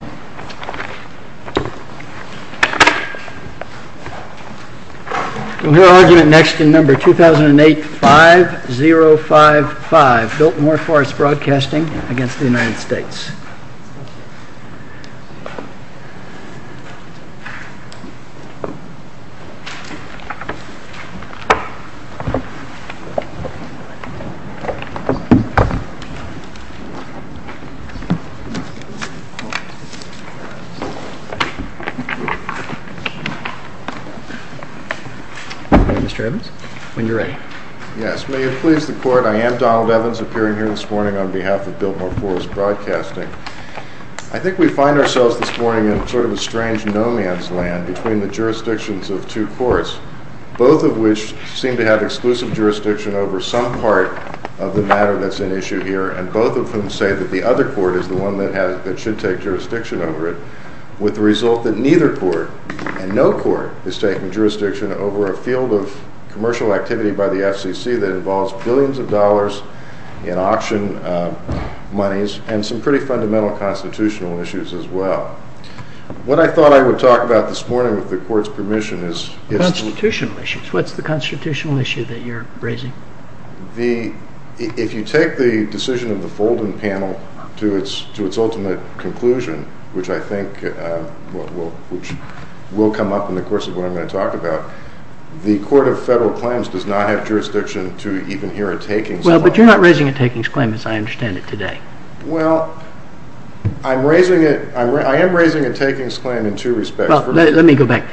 We will hear argument next in number 2008-5055, Biltmore Forest Broadcasting v. United States. I am Donald Evans, appearing here this morning on behalf of Biltmore Forest Broadcasting. I think we find ourselves this morning in sort of a strange no man's land between the jurisdictions of two courts, both of which seem to have exclusive jurisdiction over some part of the matter that's at issue here, and both of whom say that the other court is the one that should take jurisdiction over it, with the result that neither court, and no court, is taking jurisdiction over a field of commercial activity by the FCC that involves billions of dollars in auction monies and some pretty fundamental constitutional issues as well. What I thought I would talk about this morning, with the Court's permission, is... Constitutional issues. What's the constitutional issue that you're raising? If you take the decision of the Folden panel to its ultimate conclusion, which I think will come up in the course of what I'm going to talk about, the Court of Federal Claims does not have jurisdiction to even hear a takings claim. Well, but you're not raising a takings claim as I understand it today. Well, I am raising a takings claim in two respects. Well, let me go back.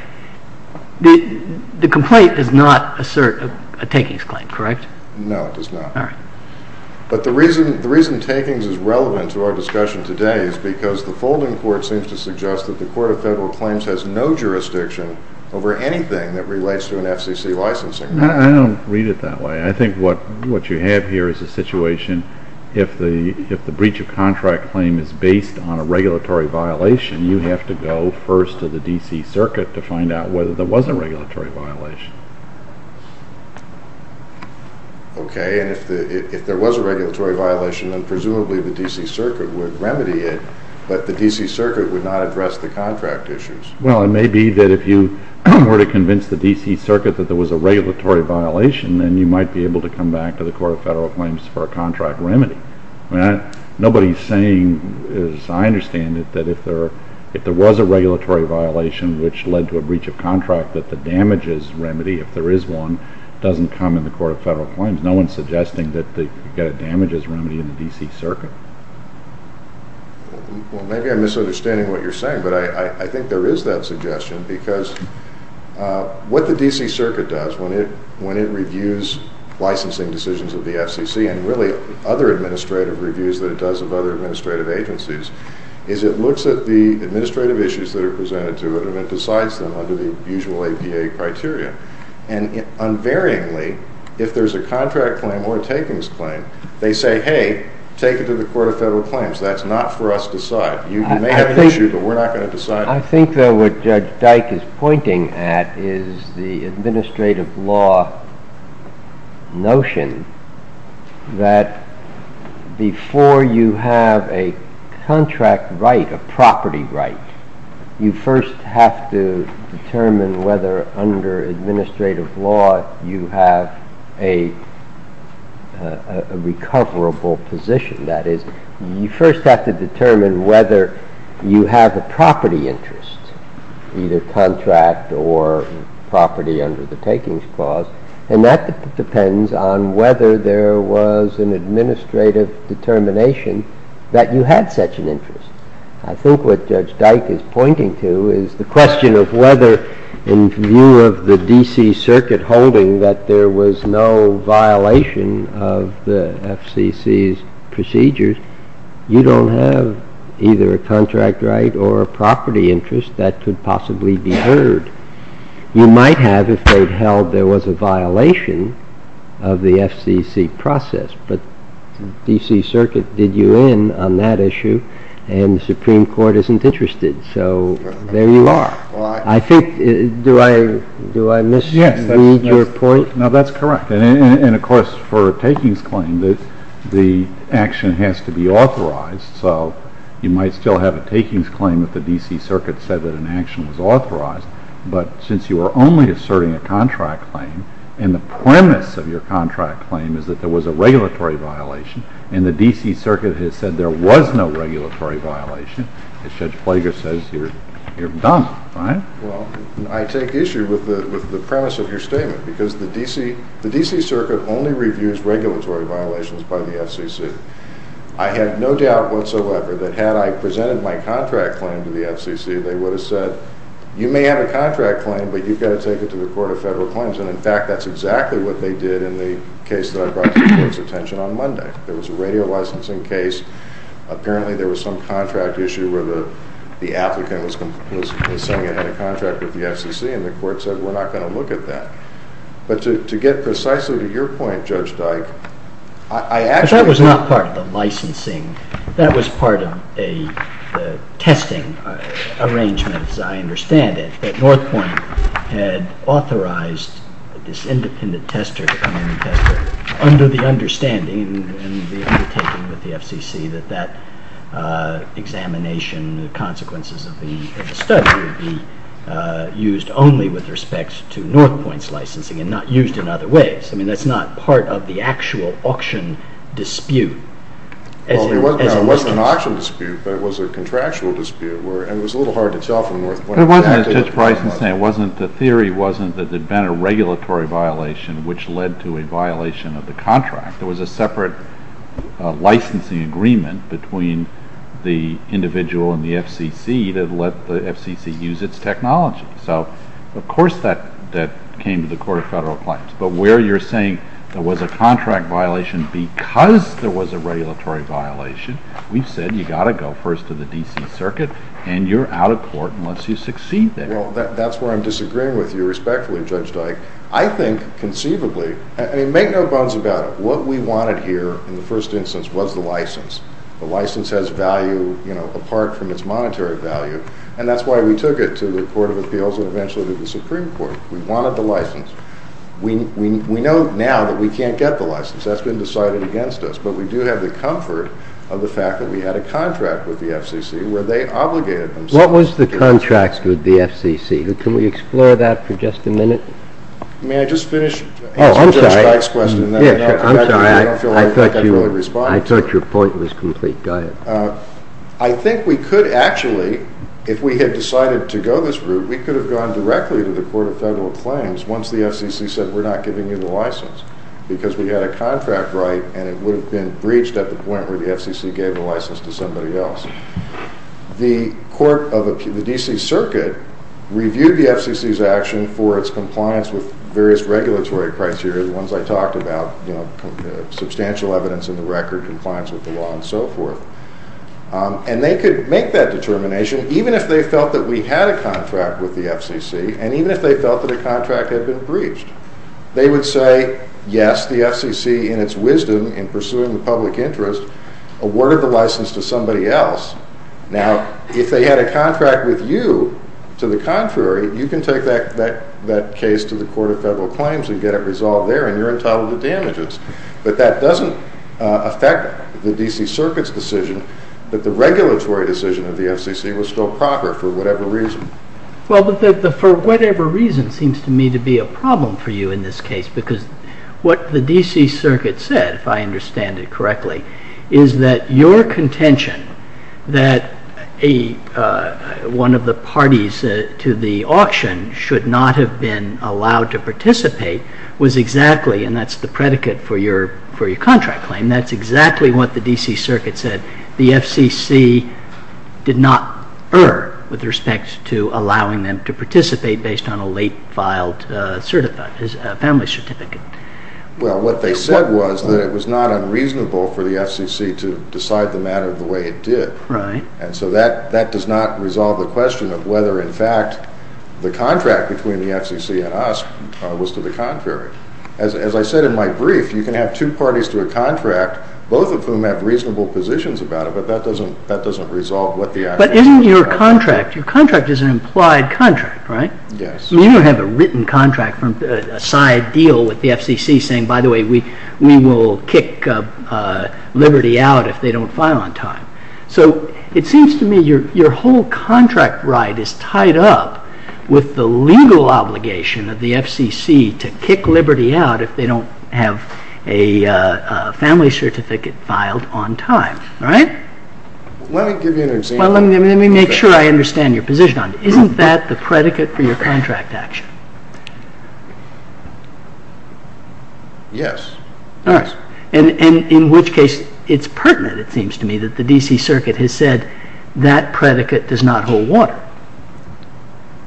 The complaint does not assert a takings claim, correct? No, it does not. All right. But the reason takings is relevant to our discussion today is because the Folden Court seems to suggest that the Court of Federal Claims has no jurisdiction over anything that relates to an FCC licensing. I don't read it that way. I think what you have here is a situation if the breach of contract claim is based on a regulatory violation, you have to go first to the D.C. Circuit to find out whether there was a regulatory violation. Okay. And if there was a regulatory violation, then presumably the D.C. Circuit would remedy it, but the D.C. Circuit would not address the contract issues. Well, it may be that if you were to convince the D.C. Circuit that there was a regulatory violation, then you might be able to come back to the Court of Federal Claims for a contract remedy. Nobody is saying, as I understand it, that if there was a regulatory violation which led to a breach of contract, that the damages remedy, if there is one, doesn't come in the Court of Federal Claims. No one is suggesting that you've got a damages remedy in the D.C. Circuit. Well, maybe I'm misunderstanding what you're saying, but I think there is that suggestion because what the D.C. Circuit does when it reviews licensing decisions of the FCC and really other administrative reviews that it does of other administrative agencies is it looks at the administrative issues that are presented to it and it decides them under the usual APA criteria. And unvaryingly, if there's a contract claim or a takings claim, they say, hey, take it to the Court of Federal Claims. That's not for us to decide. You may have an issue, but we're not going to decide it. What Judge Dyke is pointing at is the administrative law notion that before you have a contract right, a property right, you first have to determine whether under administrative law you have a recoverable position. That is, you first have to determine whether you have a property interest, either contract or property under the takings clause, and that depends on whether there was an administrative determination that you had such an interest. I think what Judge Dyke is pointing to is the question of whether in view of the D.C. Circuit holding that there was no violation of the FCC's procedures, you don't have either a contract right or a property interest that could possibly be heard. You might have if they'd held there was a violation of the FCC process, but the D.C. Circuit did you in on that issue and the Supreme Court isn't interested, so there you are. Do I misread your point? No, that's correct. Of course, for a takings claim, the action has to be authorized, so you might still have a takings claim if the D.C. Circuit said that an action was authorized, but since you are only asserting a contract claim and the premise of your contract claim is that there was a regulatory violation and the D.C. Circuit has said there was no regulatory violation, Judge Plager says you're dumb, right? Well, I take issue with the premise of your statement because the D.C. Circuit only reviews regulatory violations by the FCC. I have no doubt whatsoever that had I presented my contract claim to the FCC, they would have said you may have a contract claim, but you've got to take it to the Court of Federal Claims, and in fact that's exactly what they did in the case that I brought to the Court's attention on Monday. There was a radio licensing case. Apparently there was some contract issue where the applicant was signing a contract with the FCC, and the Court said we're not going to look at that. But to get precisely to your point, Judge Dyke, I actually— But that was not part of the licensing. That was part of a testing arrangement, as I understand it, that North Point had authorized this independent tester, under the understanding and the undertaking with the FCC that that examination, the consequences of the study, would be used only with respect to North Point's licensing and not used in other ways. I mean, that's not part of the actual auction dispute. Well, it wasn't an auction dispute, but it was a contractual dispute, But it wasn't, as Judge Bryson said. The theory wasn't that there had been a regulatory violation which led to a violation of the contract. There was a separate licensing agreement between the individual and the FCC that let the FCC use its technology. So of course that came to the Court of Federal Claims. But where you're saying there was a contract violation because there was a regulatory violation, we've said you've got to go first to the D.C. Circuit, and you're out of court unless you succeed there. Well, that's where I'm disagreeing with you respectfully, Judge Dyke. I think, conceivably, I mean, make no bones about it, what we wanted here in the first instance was the license. The license has value, you know, apart from its monetary value, and that's why we took it to the Court of Appeals and eventually to the Supreme Court. We wanted the license. We know now that we can't get the license. That's been decided against us. But we do have the comfort of the fact that we had a contract with the FCC where they obligated themselves. What was the contract with the FCC? Can we explore that for just a minute? May I just finish answering Judge Dyke's question? I'm sorry, I thought your point was complete. Go ahead. I think we could actually, if we had decided to go this route, we could have gone directly to the Court of Federal Claims once the FCC said we're not giving you the license because we had a contract right, and it would have been breached at the point where the FCC gave the license to somebody else. The Court of Appeals, the D.C. Circuit, reviewed the FCC's action for its compliance with various regulatory criteria, the ones I talked about, you know, substantial evidence in the record, compliance with the law, and so forth. And they could make that determination even if they felt that we had a contract with the FCC and even if they felt that a contract had been breached. They would say, yes, the FCC, in its wisdom, in pursuing the public interest, awarded the license to somebody else. Now, if they had a contract with you, to the contrary, you can take that case to the Court of Federal Claims and get it resolved there and you're entitled to damages. But that doesn't affect the D.C. Circuit's decision that the regulatory decision of the FCC was still proper for whatever reason. Well, for whatever reason seems to me to be a problem for you in this case because what the D.C. Circuit said, if I understand it correctly, is that your contention that one of the parties to the auction should not have been allowed to participate was exactly, and that's the predicate for your contract claim, that's exactly what the D.C. Circuit said. The FCC did not err with respect to allowing them to participate based on a late-filed family certificate. Well, what they said was that it was not unreasonable for the FCC to decide the matter the way it did. Right. And so that does not resolve the question of whether, in fact, the contract between the FCC and us was to the contrary. Both of whom have reasonable positions about it, but that doesn't resolve what the actual... But isn't your contract, your contract is an implied contract, right? Yes. You don't have a written contract, a side deal with the FCC saying, by the way, we will kick Liberty out if they don't file on time. So it seems to me your whole contract right is tied up with the legal obligation of the FCC to kick Liberty out if they don't have a family certificate filed on time, right? Let me give you an example. Well, let me make sure I understand your position on it. Isn't that the predicate for your contract action? Yes. All right. And in which case it's pertinent, it seems to me, that the D.C. Circuit has said that predicate does not hold water.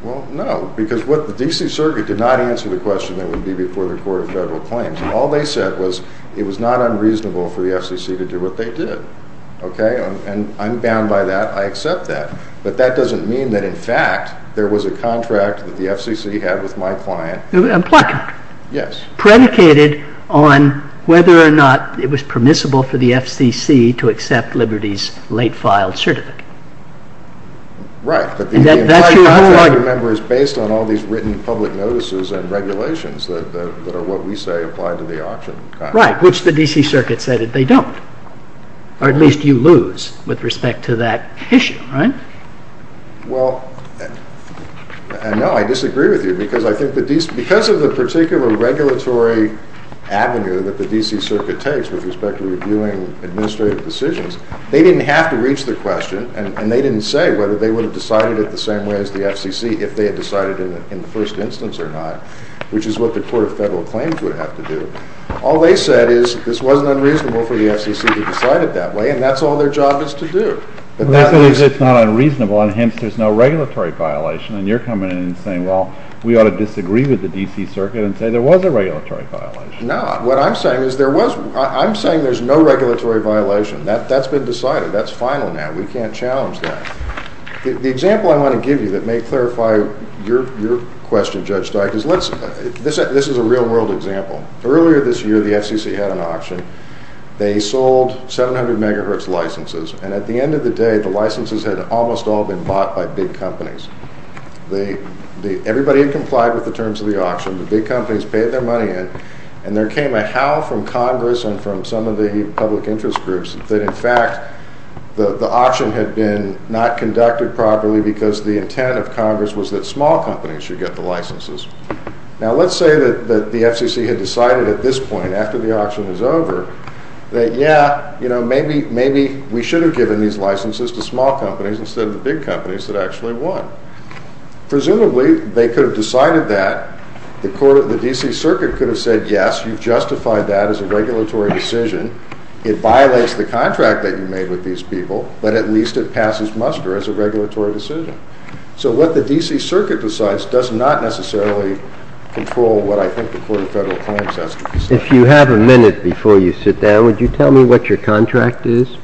Well, no, because what the D.C. Circuit did not answer the question that would be before the Court of Federal Claims. All they said was it was not unreasonable for the FCC to do what they did. Okay? And I'm bound by that. I accept that. But that doesn't mean that, in fact, there was a contract that the FCC had with my client... An implied contract. Yes. Predicated on whether or not it was permissible for the FCC to accept Liberty's late-filed certificate. Right. But the implied contract, remember, is based on all these written public notices and regulations that are what we say apply to the auction contract. Right, which the D.C. Circuit said that they don't. Or at least you lose with respect to that issue, right? Well, no, I disagree with you because I think because of the particular regulatory avenue that the D.C. Circuit takes with respect to reviewing administrative decisions, they didn't have to reach the question and they didn't say whether they would have decided it the same way as the FCC if they had decided in the first instance or not, which is what the Court of Federal Claims would have to do. All they said is this wasn't unreasonable for the FCC to decide it that way, and that's all their job is to do. Well, that means it's not unreasonable, and hence there's no regulatory violation. And you're coming in and saying, well, we ought to disagree with the D.C. Circuit and say there was a regulatory violation. No, what I'm saying is there was. I'm saying there's no regulatory violation. That's been decided. That's final now. We can't challenge that. The example I want to give you that may clarify your question, Judge Steyer, because this is a real-world example. Earlier this year the FCC had an auction. They sold 700 megahertz licenses, and at the end of the day the licenses had almost all been bought by big companies. Everybody had complied with the terms of the auction. The big companies paid their money in, and there came a howl from Congress and from some of the public interest groups that, in fact, the auction had been not conducted properly because the intent of Congress was that small companies should get the licenses. Now, let's say that the FCC had decided at this point, after the auction was over, that, yeah, maybe we should have given these licenses to small companies instead of the big companies that actually won. Presumably they could have decided that. The D.C. Circuit could have said, yes, you've justified that as a regulatory decision. It violates the contract that you made with these people, but at least it passes muster as a regulatory decision. So what the D.C. Circuit decides does not necessarily control what I think the Court of Federal Claims has to decide. If you have a minute before you sit down, would you tell me what your contract is?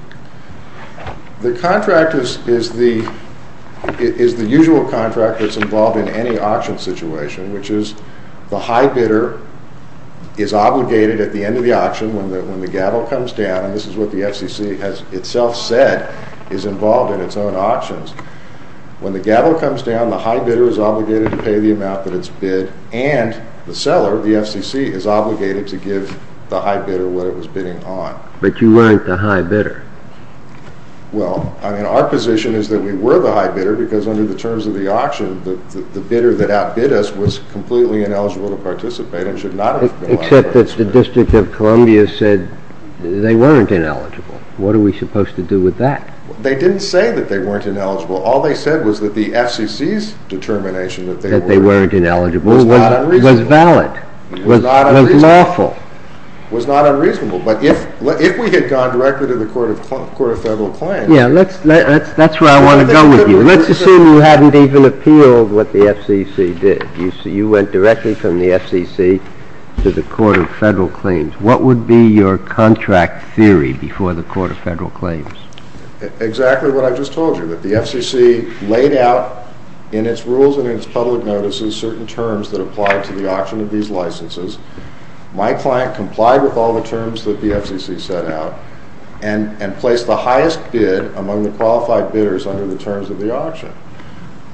The contract is the usual contract that's involved in any auction situation, which is the high bidder is obligated at the end of the auction when the gavel comes down, and this is what the FCC has itself said is involved in its own auctions. When the gavel comes down, the high bidder is obligated to pay the amount that it's bid, and the seller, the FCC, is obligated to give the high bidder what it was bidding on. But you weren't the high bidder. Well, I mean, our position is that we were the high bidder because under the terms of the auction, Except that the District of Columbia said they weren't ineligible. What are we supposed to do with that? They didn't say that they weren't ineligible. All they said was that the FCC's determination that they weren't ineligible was valid, was lawful, was not unreasonable. But if we had gone directly to the Court of Federal Claims... Yeah, that's where I want to go with you. Let's assume you hadn't even appealed what the FCC did. You went directly from the FCC to the Court of Federal Claims. What would be your contract theory before the Court of Federal Claims? Exactly what I just told you, that the FCC laid out in its rules and in its public notices certain terms that apply to the auction of these licenses. My client complied with all the terms that the FCC set out and placed the highest bid among the qualified bidders under the terms of the auction.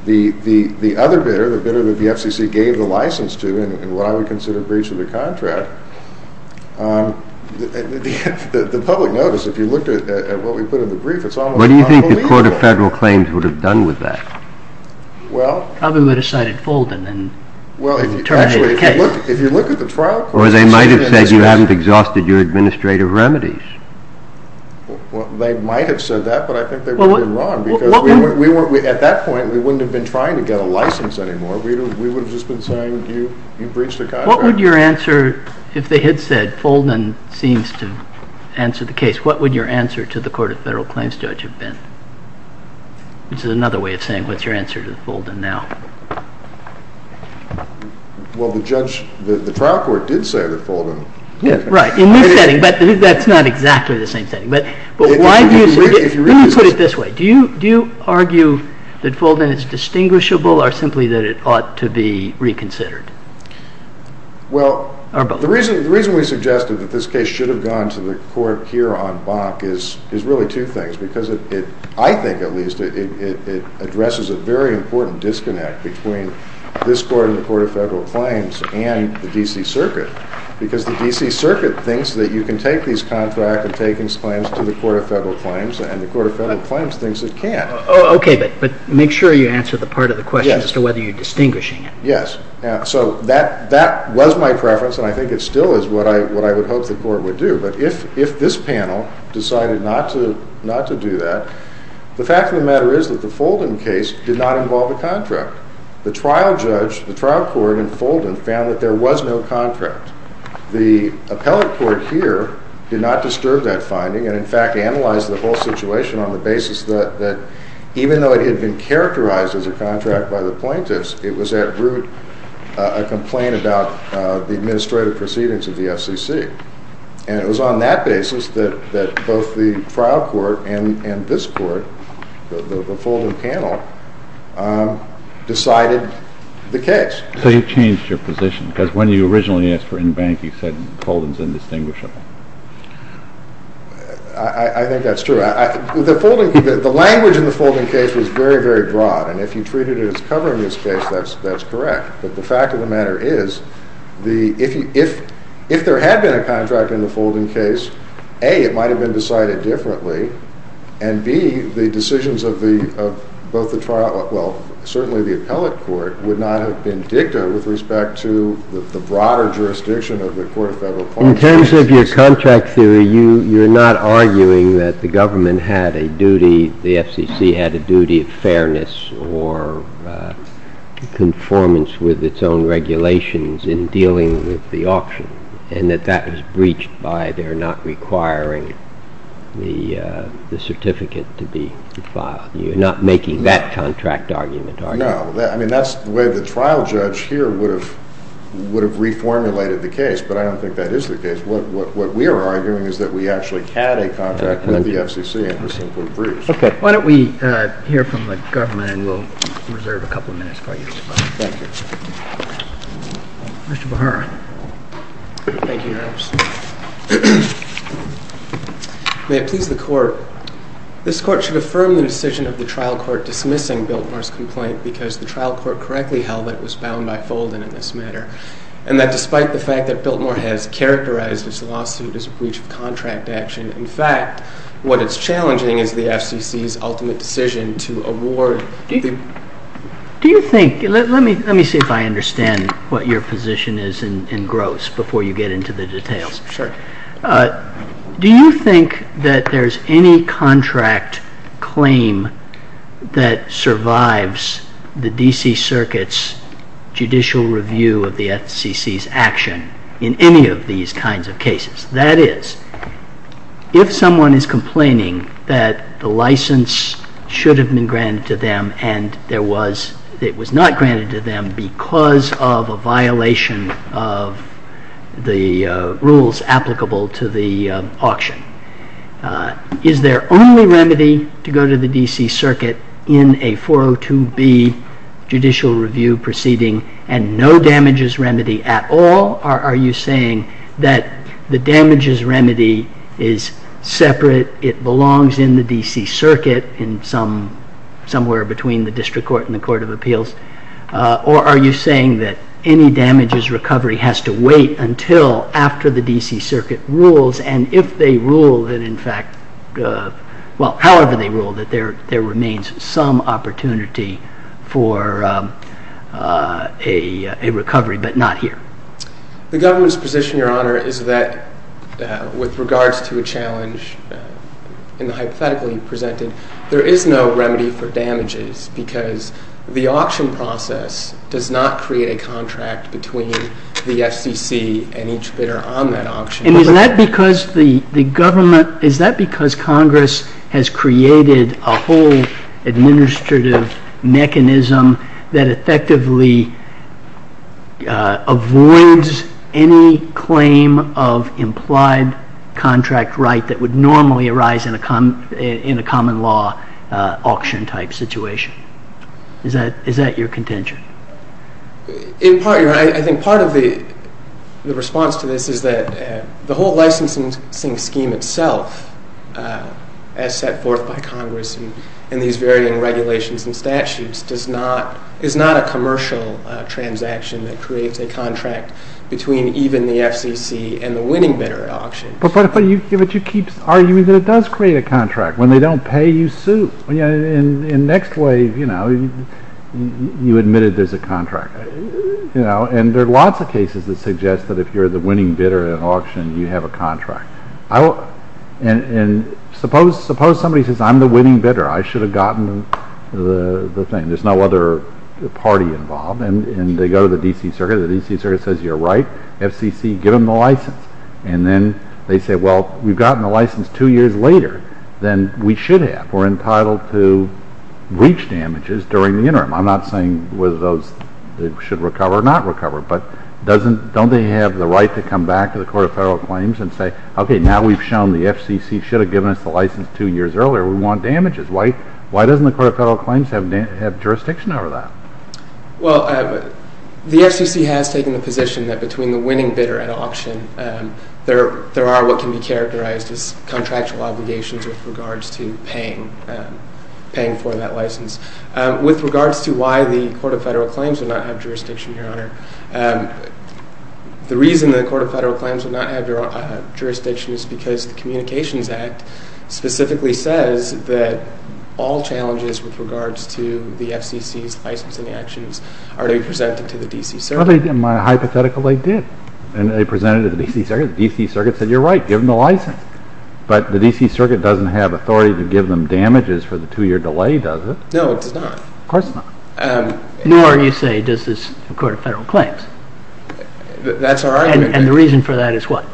The other bidder, the bidder that the FCC gave the license to, in what I would consider breach of the contract, the public notice, if you looked at what we put in the brief, it's almost unbelievable. What do you think the Court of Federal Claims would have done with that? Well... Probably would have cited Fulden and then... Well, actually, if you look at the trial... Or they might have said you haven't exhausted your administrative remedies. They might have said that, but I think they would have been wrong because at that point we wouldn't have been trying to get a license anymore. We would have just been saying you breached the contract. What would your answer, if they had said Fulden seems to answer the case, what would your answer to the Court of Federal Claims judge have been? This is another way of saying what's your answer to Fulden now? Well, the trial court did say that Fulden... Right, in this setting, but that's not exactly the same setting. If you really put it this way, do you argue that Fulden is distinguishable or simply that it ought to be reconsidered? Well, the reason we suggested that this case should have gone to the court here on Bonk is really two things because I think at least it addresses a very important disconnect between this court and the Court of Federal Claims and the D.C. Circuit because the D.C. Circuit thinks that you can take these contract and takings claims to the Court of Federal Claims and the Court of Federal Claims thinks it can't. Okay, but make sure you answer the part of the question as to whether you're distinguishing it. Yes, so that was my preference and I think it still is what I would hope the court would do, but if this panel decided not to do that, the fact of the matter is that the Fulden case did not involve a contract. The trial judge, the trial court in Fulden found that there was no contract. The appellate court here did not disturb that finding and in fact analyzed the whole situation on the basis that even though it had been characterized as a contract by the plaintiffs, it was at root a complaint about the administrative proceedings of the FCC and it was on that basis that both the trial court and this court, the Fulden panel, decided the case. So you've changed your position because when you originally asked for in-bank, you said Fulden's indistinguishable. I think that's true. The language in the Fulden case was very, very broad and if you treated it as covering this case, that's correct, but the fact of the matter is if there had been a contract in the Fulden case, A, it might have been decided differently and B, the decisions of both the trial, well, certainly the appellate court would not have been dicta with respect to the broader jurisdiction of the Court of Federal Appointments. In terms of your contract theory, you're not arguing that the government had a duty, the FCC had a duty of fairness or conformance with its own regulations in dealing with the auction and that that was breached by their not requiring the certificate to be filed. You're not making that contract argument, are you? No. I mean, that's the way the trial judge here would have reformulated the case, but I don't think that is the case. What we are arguing is that we actually had a contract with the FCC and it was simply breached. Okay. Why don't we hear from the government and we'll reserve a couple of minutes for you. Mr. Behar. Thank you, Your Honor. May it please the Court. This Court should affirm the decision of the trial court dismissing Biltmore's complaint because the trial court correctly held that it was bound by Folden in this matter and that despite the fact that Biltmore has characterized its lawsuit as a breach of contract action, in fact, what it's challenging is the FCC's ultimate decision to award. Do you think, let me see if I understand what your position is in Gross before you get into the details. Sure. Do you think that there's any contract claim that survives the D.C. Circuit's judicial review of the FCC's action in any of these kinds of cases? That is, if someone is complaining that the license should have been granted to them and it was not granted to them because of a violation of the rules applicable to the auction, is there only remedy to go to the D.C. Circuit in a 402B judicial review proceeding and no damages remedy at all? Are you saying that the damages remedy is separate, it belongs in the D.C. Circuit and somewhere between the District Court and the Court of Appeals, or are you saying that any damages recovery has to wait until after the D.C. Circuit rules and if they rule that in fact, well, however they rule, that there remains some opportunity for a recovery but not here? The government's position, Your Honor, is that with regards to a challenge in the hypothetical you presented, there is no remedy for damages because the auction process does not create a contract between the FCC and each bidder on that auction. And is that because Congress has created a whole administrative mechanism that effectively avoids any claim of implied contract right that would normally arise in a common law auction type situation? Is that your contention? In part, Your Honor, I think part of the response to this is that the whole licensing scheme itself as set forth by Congress in these varying regulations and statutes is not a commercial transaction that creates a contract between even the FCC and the winning bidder at auction. But you keep arguing that it does create a contract. When they don't pay, you sue. And next wave, you admitted there's a contract. And there are lots of cases that suggest that if you're the winning bidder at an auction, you have a contract. And suppose somebody says, I'm the winning bidder. I should have gotten the thing. There's no other party involved. And they go to the D.C. Circuit. The D.C. Circuit says, You're right. FCC, give them the license. And then they say, Well, we've gotten the license two years later than we should have. We're entitled to breach damages during the interim. I'm not saying whether those should recover or not recover. But don't they have the right to come back to the Court of Federal Claims and say, Okay, now we've shown the FCC should have given us the license two years earlier. We want damages. Why doesn't the Court of Federal Claims have jurisdiction over that? Well, the FCC has taken the position that between the winning bidder at auction, there are what can be characterized as contractual obligations with regards to paying for that license. With regards to why the Court of Federal Claims would not have jurisdiction, Your Honor, the reason the Court of Federal Claims would not have jurisdiction is because the Communications Act specifically says that all challenges with regards to the FCC's licensing actions are to be presented to the D.C. Circuit. In my hypothetical, they did. And they presented it to the D.C. Circuit. The D.C. Circuit said, You're right. Give them the license. But the D.C. Circuit doesn't have authority to give them damages for the two-year delay, does it? No, it does not. Of course not. Nor, you say, does the Court of Federal Claims. That's our argument. And the reason for that is what?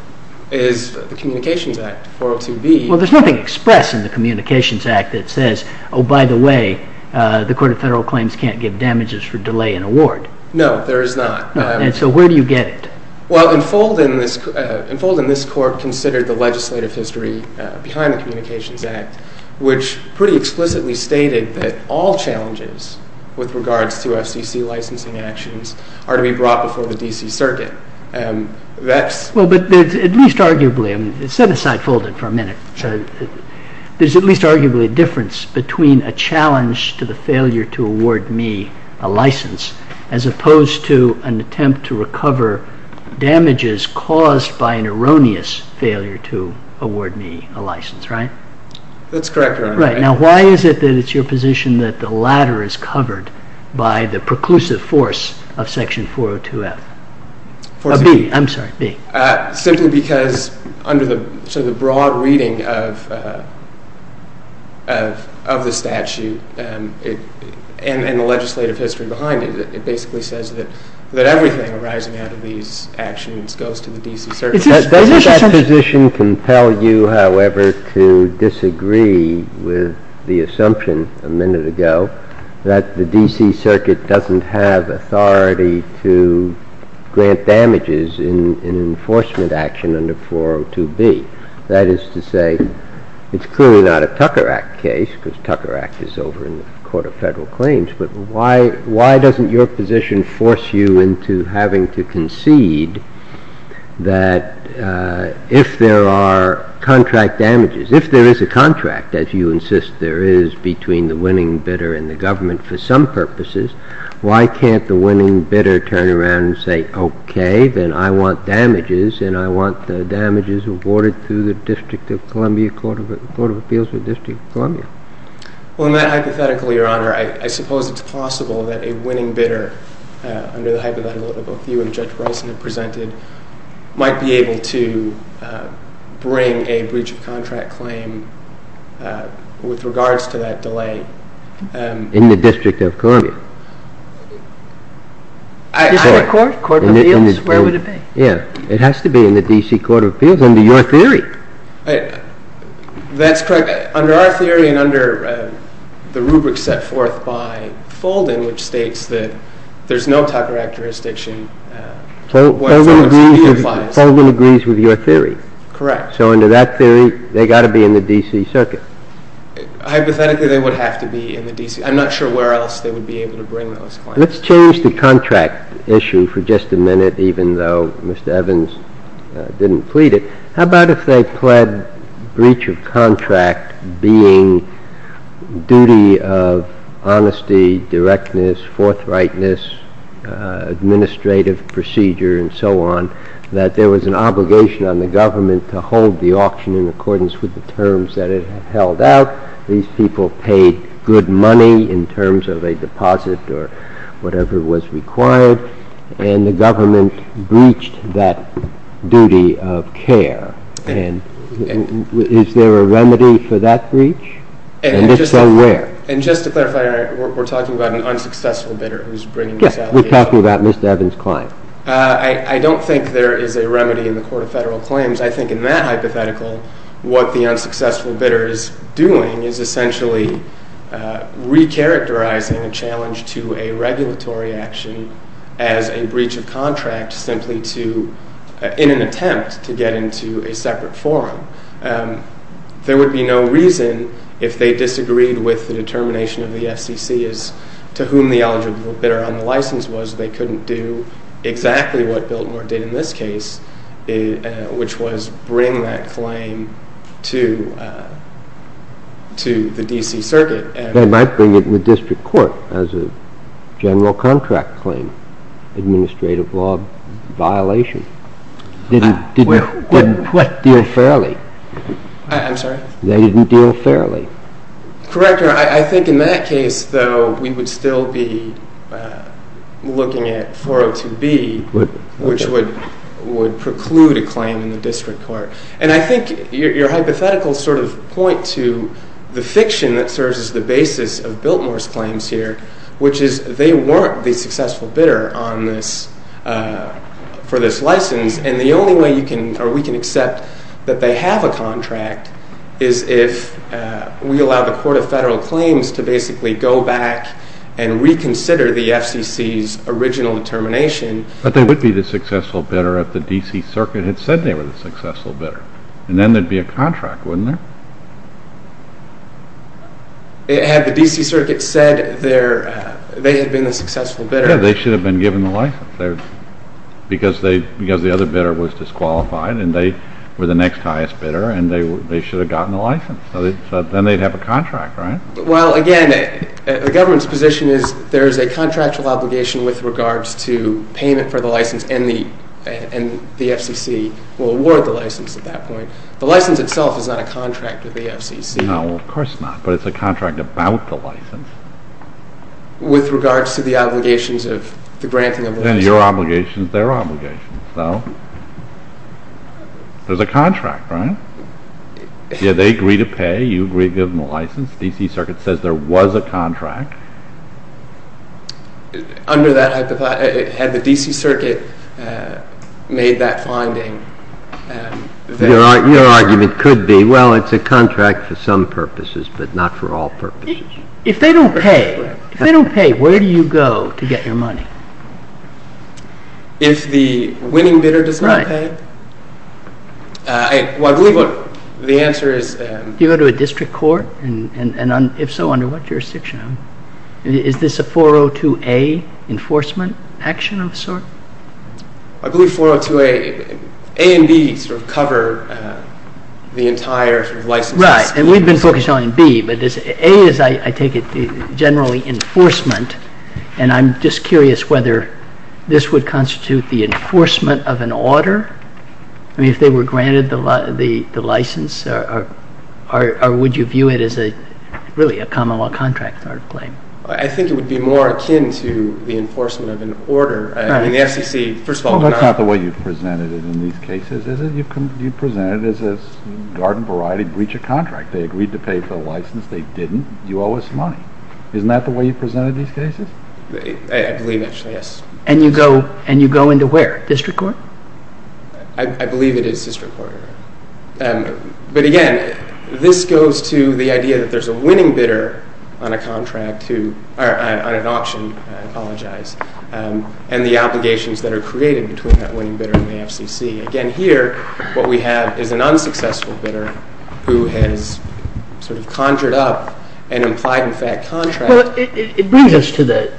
Is the Communications Act, 402B. Well, there's nothing expressed in the Communications Act that says, Oh, by the way, the Court of Federal Claims can't give damages for delay in award. No, there is not. And so where do you get it? Well, Enfold in this Court considered the legislative history behind the Communications Act, which pretty explicitly stated that all challenges with regards to FCC licensing actions are to be brought before the D.C. Circuit. Well, but at least arguably, set aside folded for a minute, there's at least arguably a difference between a challenge to the failure to award me a license as opposed to an attempt to recover damages caused by an erroneous failure to award me a license, right? That's correct, Your Honor. Right. Now, why is it that it's your position that the latter is covered by the preclusive force of Section 402F? I'm sorry, B. Simply because under the broad reading of the statute and the legislative history behind it, it basically says that everything arising out of these actions goes to the D.C. Circuit. Does that position compel you, however, to disagree with the assumption a minute ago that the D.C. Circuit doesn't have authority to grant damages in enforcement action under 402B? That is to say, it's clearly not a Tucker Act case, because Tucker Act is over in the Court of Federal Claims, but why doesn't your position force you into having to concede that if there are contract damages, if there is a contract, as you insist there is between the winning bidder and the government for some purposes, why can't the winning bidder turn around and say, okay, then I want damages, and I want the damages awarded through the District of Columbia Court of Appeals or District of Columbia? Well, in that hypothetical, Your Honor, I suppose it's possible that a winning bidder, under the hypothetical view of Judge Rolson had presented, might be able to bring a breach of contract claim with regards to that delay. In the District of Columbia? District Court? Court of Appeals? Where would it be? Yeah. It has to be in the D.C. Court of Appeals under your theory. That's correct. Under our theory and under the rubric set forth by Fulden, which states that there's no Tucker Act jurisdiction where Fulden's opinion lies. Fulden agrees with your theory? Correct. So under that theory, they've got to be in the D.C. Circuit? Hypothetically, they would have to be in the D.C. I'm not sure where else they would be able to bring those claims. Let's change the contract issue for just a minute, even though Mr. Evans didn't plead it. How about if they pled breach of contract being duty of honesty, directness, forthrightness, administrative procedure, and so on, that there was an obligation on the government to hold the auction in accordance with the terms that it held out. These people paid good money in terms of a deposit or whatever was required, and the government breached that duty of care. And is there a remedy for that breach? And if so, where? And just to clarify, we're talking about an unsuccessful bidder who's bringing this allegation? Yes, we're talking about Mr. Evans' client. I don't think there is a remedy in the Court of Federal Claims. I think in that hypothetical, what the unsuccessful bidder is doing is essentially recharacterizing a challenge to a regulatory action as a breach of contract simply in an attempt to get into a separate forum. There would be no reason, if they disagreed with the determination of the FCC as to whom the eligible bidder on the license was, they couldn't do exactly what Biltmore did in this case, which was bring that claim to the D.C. Circuit. They might bring it to the district court as a general contract claim, administrative law violation. Didn't deal fairly. I'm sorry? They didn't deal fairly. Correct, Your Honor. I think in that case, though, we would still be looking at 402B, which would preclude a claim in the district court. And I think your hypotheticals sort of point to the fiction that serves as the basis of Biltmore's claims here, which is they weren't the successful bidder for this license, and the only way we can accept that they have a contract is if we allow the Court of Federal Claims to basically go back and reconsider the FCC's original determination. But they would be the successful bidder if the D.C. Circuit had said they were the successful bidder, and then there'd be a contract, wouldn't there? Had the D.C. Circuit said they had been the successful bidder? Yeah, they should have been given the license, because the other bidder was disqualified and they were the next highest bidder and they should have gotten the license. So then they'd have a contract, right? Well, again, the government's position is there is a contractual obligation with regards to payment for the license, and the FCC will award the license at that point. The license itself is not a contract with the FCC. No, of course not, but it's a contract about the license. With regards to the obligations of the granting of the license. Then your obligation is their obligation, so there's a contract, right? Yeah, they agree to pay, you agree to give them the license, the D.C. Circuit says there was a contract. Under that hypothesis, had the D.C. Circuit made that finding? Your argument could be, well, it's a contract for some purposes, but not for all purposes. If they don't pay, where do you go to get your money? If the winning bidder does not pay? Well, I believe the answer is… Do you go to a district court? And if so, under what jurisdiction? Is this a 402A enforcement action of a sort? I believe 402A, A and B sort of cover the entire license scheme. Right, and we've been focused on B, but A is, I take it, generally enforcement, and I'm just curious whether this would constitute the enforcement of an order? I mean, if they were granted the license, or would you view it as really a common law contract sort of claim? I think it would be more akin to the enforcement of an order. I mean, the FCC, first of all… Well, that's not the way you've presented it in these cases, is it? You've presented it as a garden variety breach of contract. They agreed to pay for the license, they didn't, you owe us money. Isn't that the way you presented these cases? I believe, actually, yes. And you go into where? District court? I believe it is district court. But again, this goes to the idea that there's a winning bidder on a contract to, on an auction, I apologize, and the obligations that are created between that winning bidder and the FCC. Again, here, what we have is an unsuccessful bidder who has sort of conjured up an implied in fact contract. Well, it brings us to the,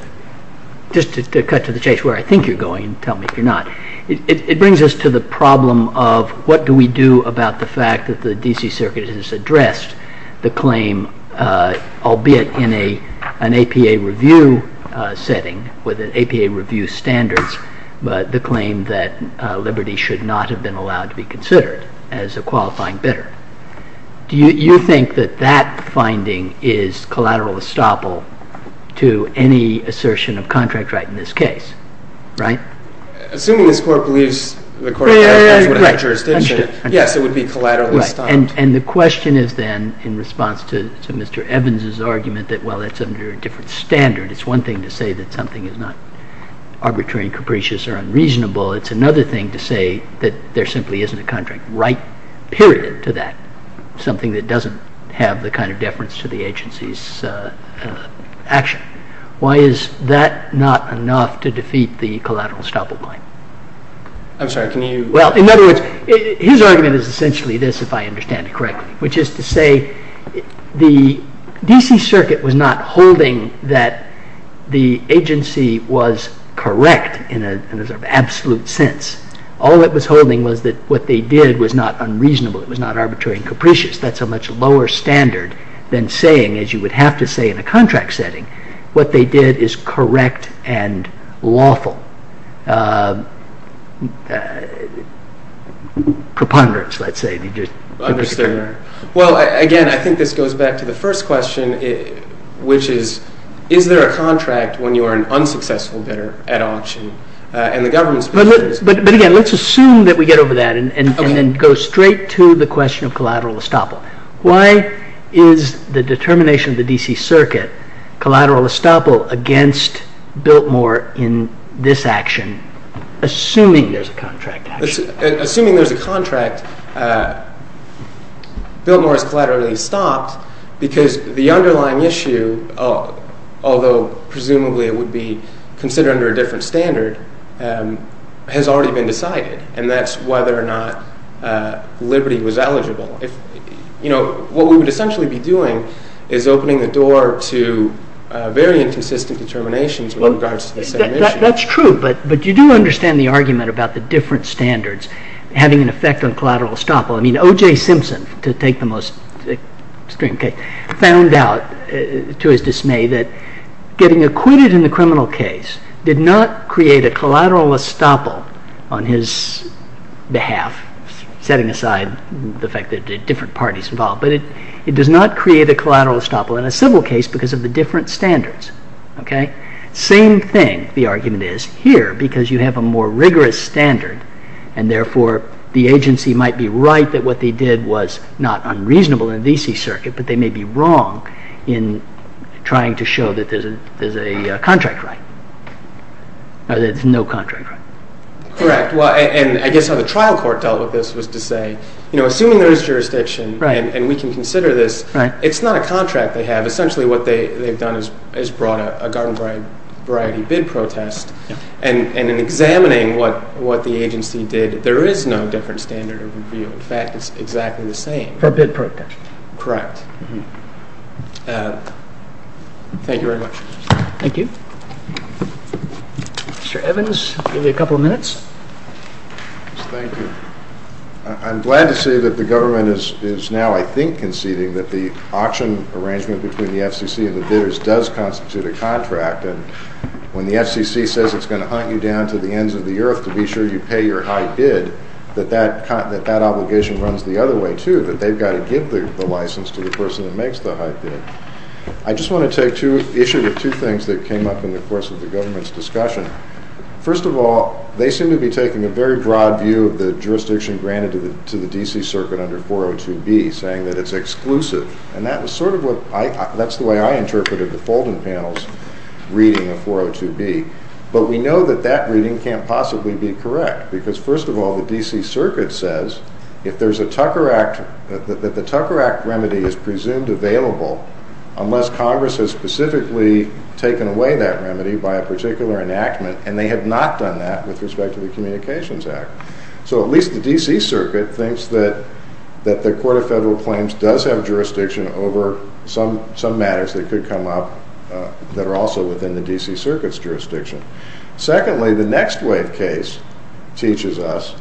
just to cut to the chase where I think you're going and tell me if you're not, it brings us to the problem of what do we do about the fact that the D.C. Circuit has addressed the claim, albeit in an APA review setting, with an APA review standards, but as a qualifying bidder. Do you think that that finding is collateral estoppel to any assertion of contract right in this case? Right? Assuming this court believes the court would have jurisdiction, yes, it would be collateral estoppel. And the question is then, in response to Mr. Evans' argument, that while it's under a different standard, it's one thing to say that something is not arbitrary and capricious or unreasonable, it's another thing to say that there simply isn't a contract right, period, to that. Something that doesn't have the kind of deference to the agency's action. Why is that not enough to defeat the collateral estoppel claim? I'm sorry, can you... Well, in other words, his argument is essentially this, if I understand it correctly, which is to say the D.C. Circuit was not holding that the agency was correct in an absolute sense. All it was holding was that what they did was not unreasonable, it was not arbitrary and capricious. That's a much lower standard than saying, as you would have to say in a contract setting, what they did is correct and lawful. Preponderance, let's say. Understood. Well, again, I think this goes back to the first question, which is, is there a contract when you are an unsuccessful bidder at auction and the government... But again, let's assume that we get over that and then go straight to the question of collateral estoppel. Why is the determination of the D.C. Circuit collateral estoppel against Biltmore in this action, assuming there's a contract? Assuming there's a contract, Biltmore is collaterally stopped because the underlying issue, although presumably it would be considered under a different standard, has already been decided, and that's whether or not Liberty was eligible. What we would essentially be doing is opening the door to very inconsistent determinations with regards to the same issue. That's true, but you do understand the argument about the different standards having an effect on collateral estoppel. I mean, O.J. Simpson, to take the most extreme case, found out to his dismay that getting acquitted in the criminal case did not create a collateral estoppel on his behalf, setting aside the fact that there are different parties involved, but it does not create a collateral estoppel in a civil case because of the different standards. Same thing, the argument is, here, because you have a more rigorous standard and therefore the agency might be right that what they did was not unreasonable in the V.C. circuit, but they may be wrong in trying to show that there's a contract right, or that there's no contract right. Correct, and I guess how the trial court dealt with this was to say, assuming there is jurisdiction and we can consider this, it's not a contract they have. Essentially what they've done is brought a garden variety bid protest, and in examining what the agency did, there is no different standard of review. In fact, it's exactly the same. For bid protest. Correct. Thank you very much. Thank you. Mr. Evans, we'll give you a couple of minutes. Thank you. I'm glad to see that the government is now, I think, conceding that the auction arrangement between the FCC and the bidders does constitute a contract, and when the FCC says it's going to hunt you down to the ends of the earth to be sure you pay your high bid, that that obligation runs the other way, too, that they've got to give the license to the person that makes the high bid. I just want to take issue with two things that came up in the course of the government's discussion. First of all, they seem to be taking a very broad view of the jurisdiction granted to the D.C. circuit under 402B, saying that it's exclusive, and that's the way I interpreted the Fulden panel's reading of 402B, but we know that that reading can't possibly be correct because, first of all, the D.C. circuit says that the Tucker Act remedy is presumed available unless Congress has specifically taken away that remedy by a particular enactment, and they have not done that with respect to the Communications Act. So at least the D.C. circuit thinks that the Court of Federal Claims does have jurisdiction over some matters that could come up that are also within the D.C. circuit's jurisdiction. Secondly, the Next Wave case teaches us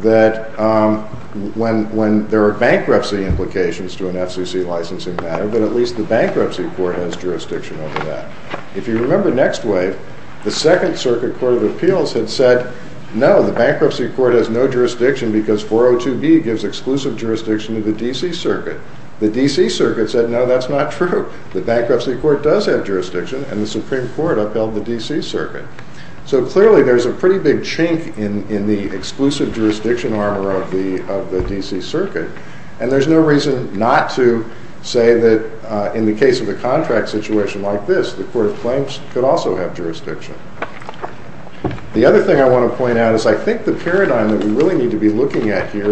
that there are bankruptcy implications to an FCC licensing matter, but at least the Bankruptcy Court has jurisdiction over that. If you remember Next Wave, the Second Circuit Court of Appeals had said, no, the Bankruptcy Court has no jurisdiction because 402B gives exclusive jurisdiction to the D.C. circuit. The D.C. circuit said, no, that's not true. The Bankruptcy Court does have jurisdiction, and the Supreme Court upheld the D.C. circuit. So clearly there's a pretty big chink in the exclusive jurisdiction armor of the D.C. circuit, and there's no reason not to say that in the case of a contract situation like this, the Court of Claims could also have jurisdiction. The other thing I want to point out is I think the paradigm that we really need to be looking at here is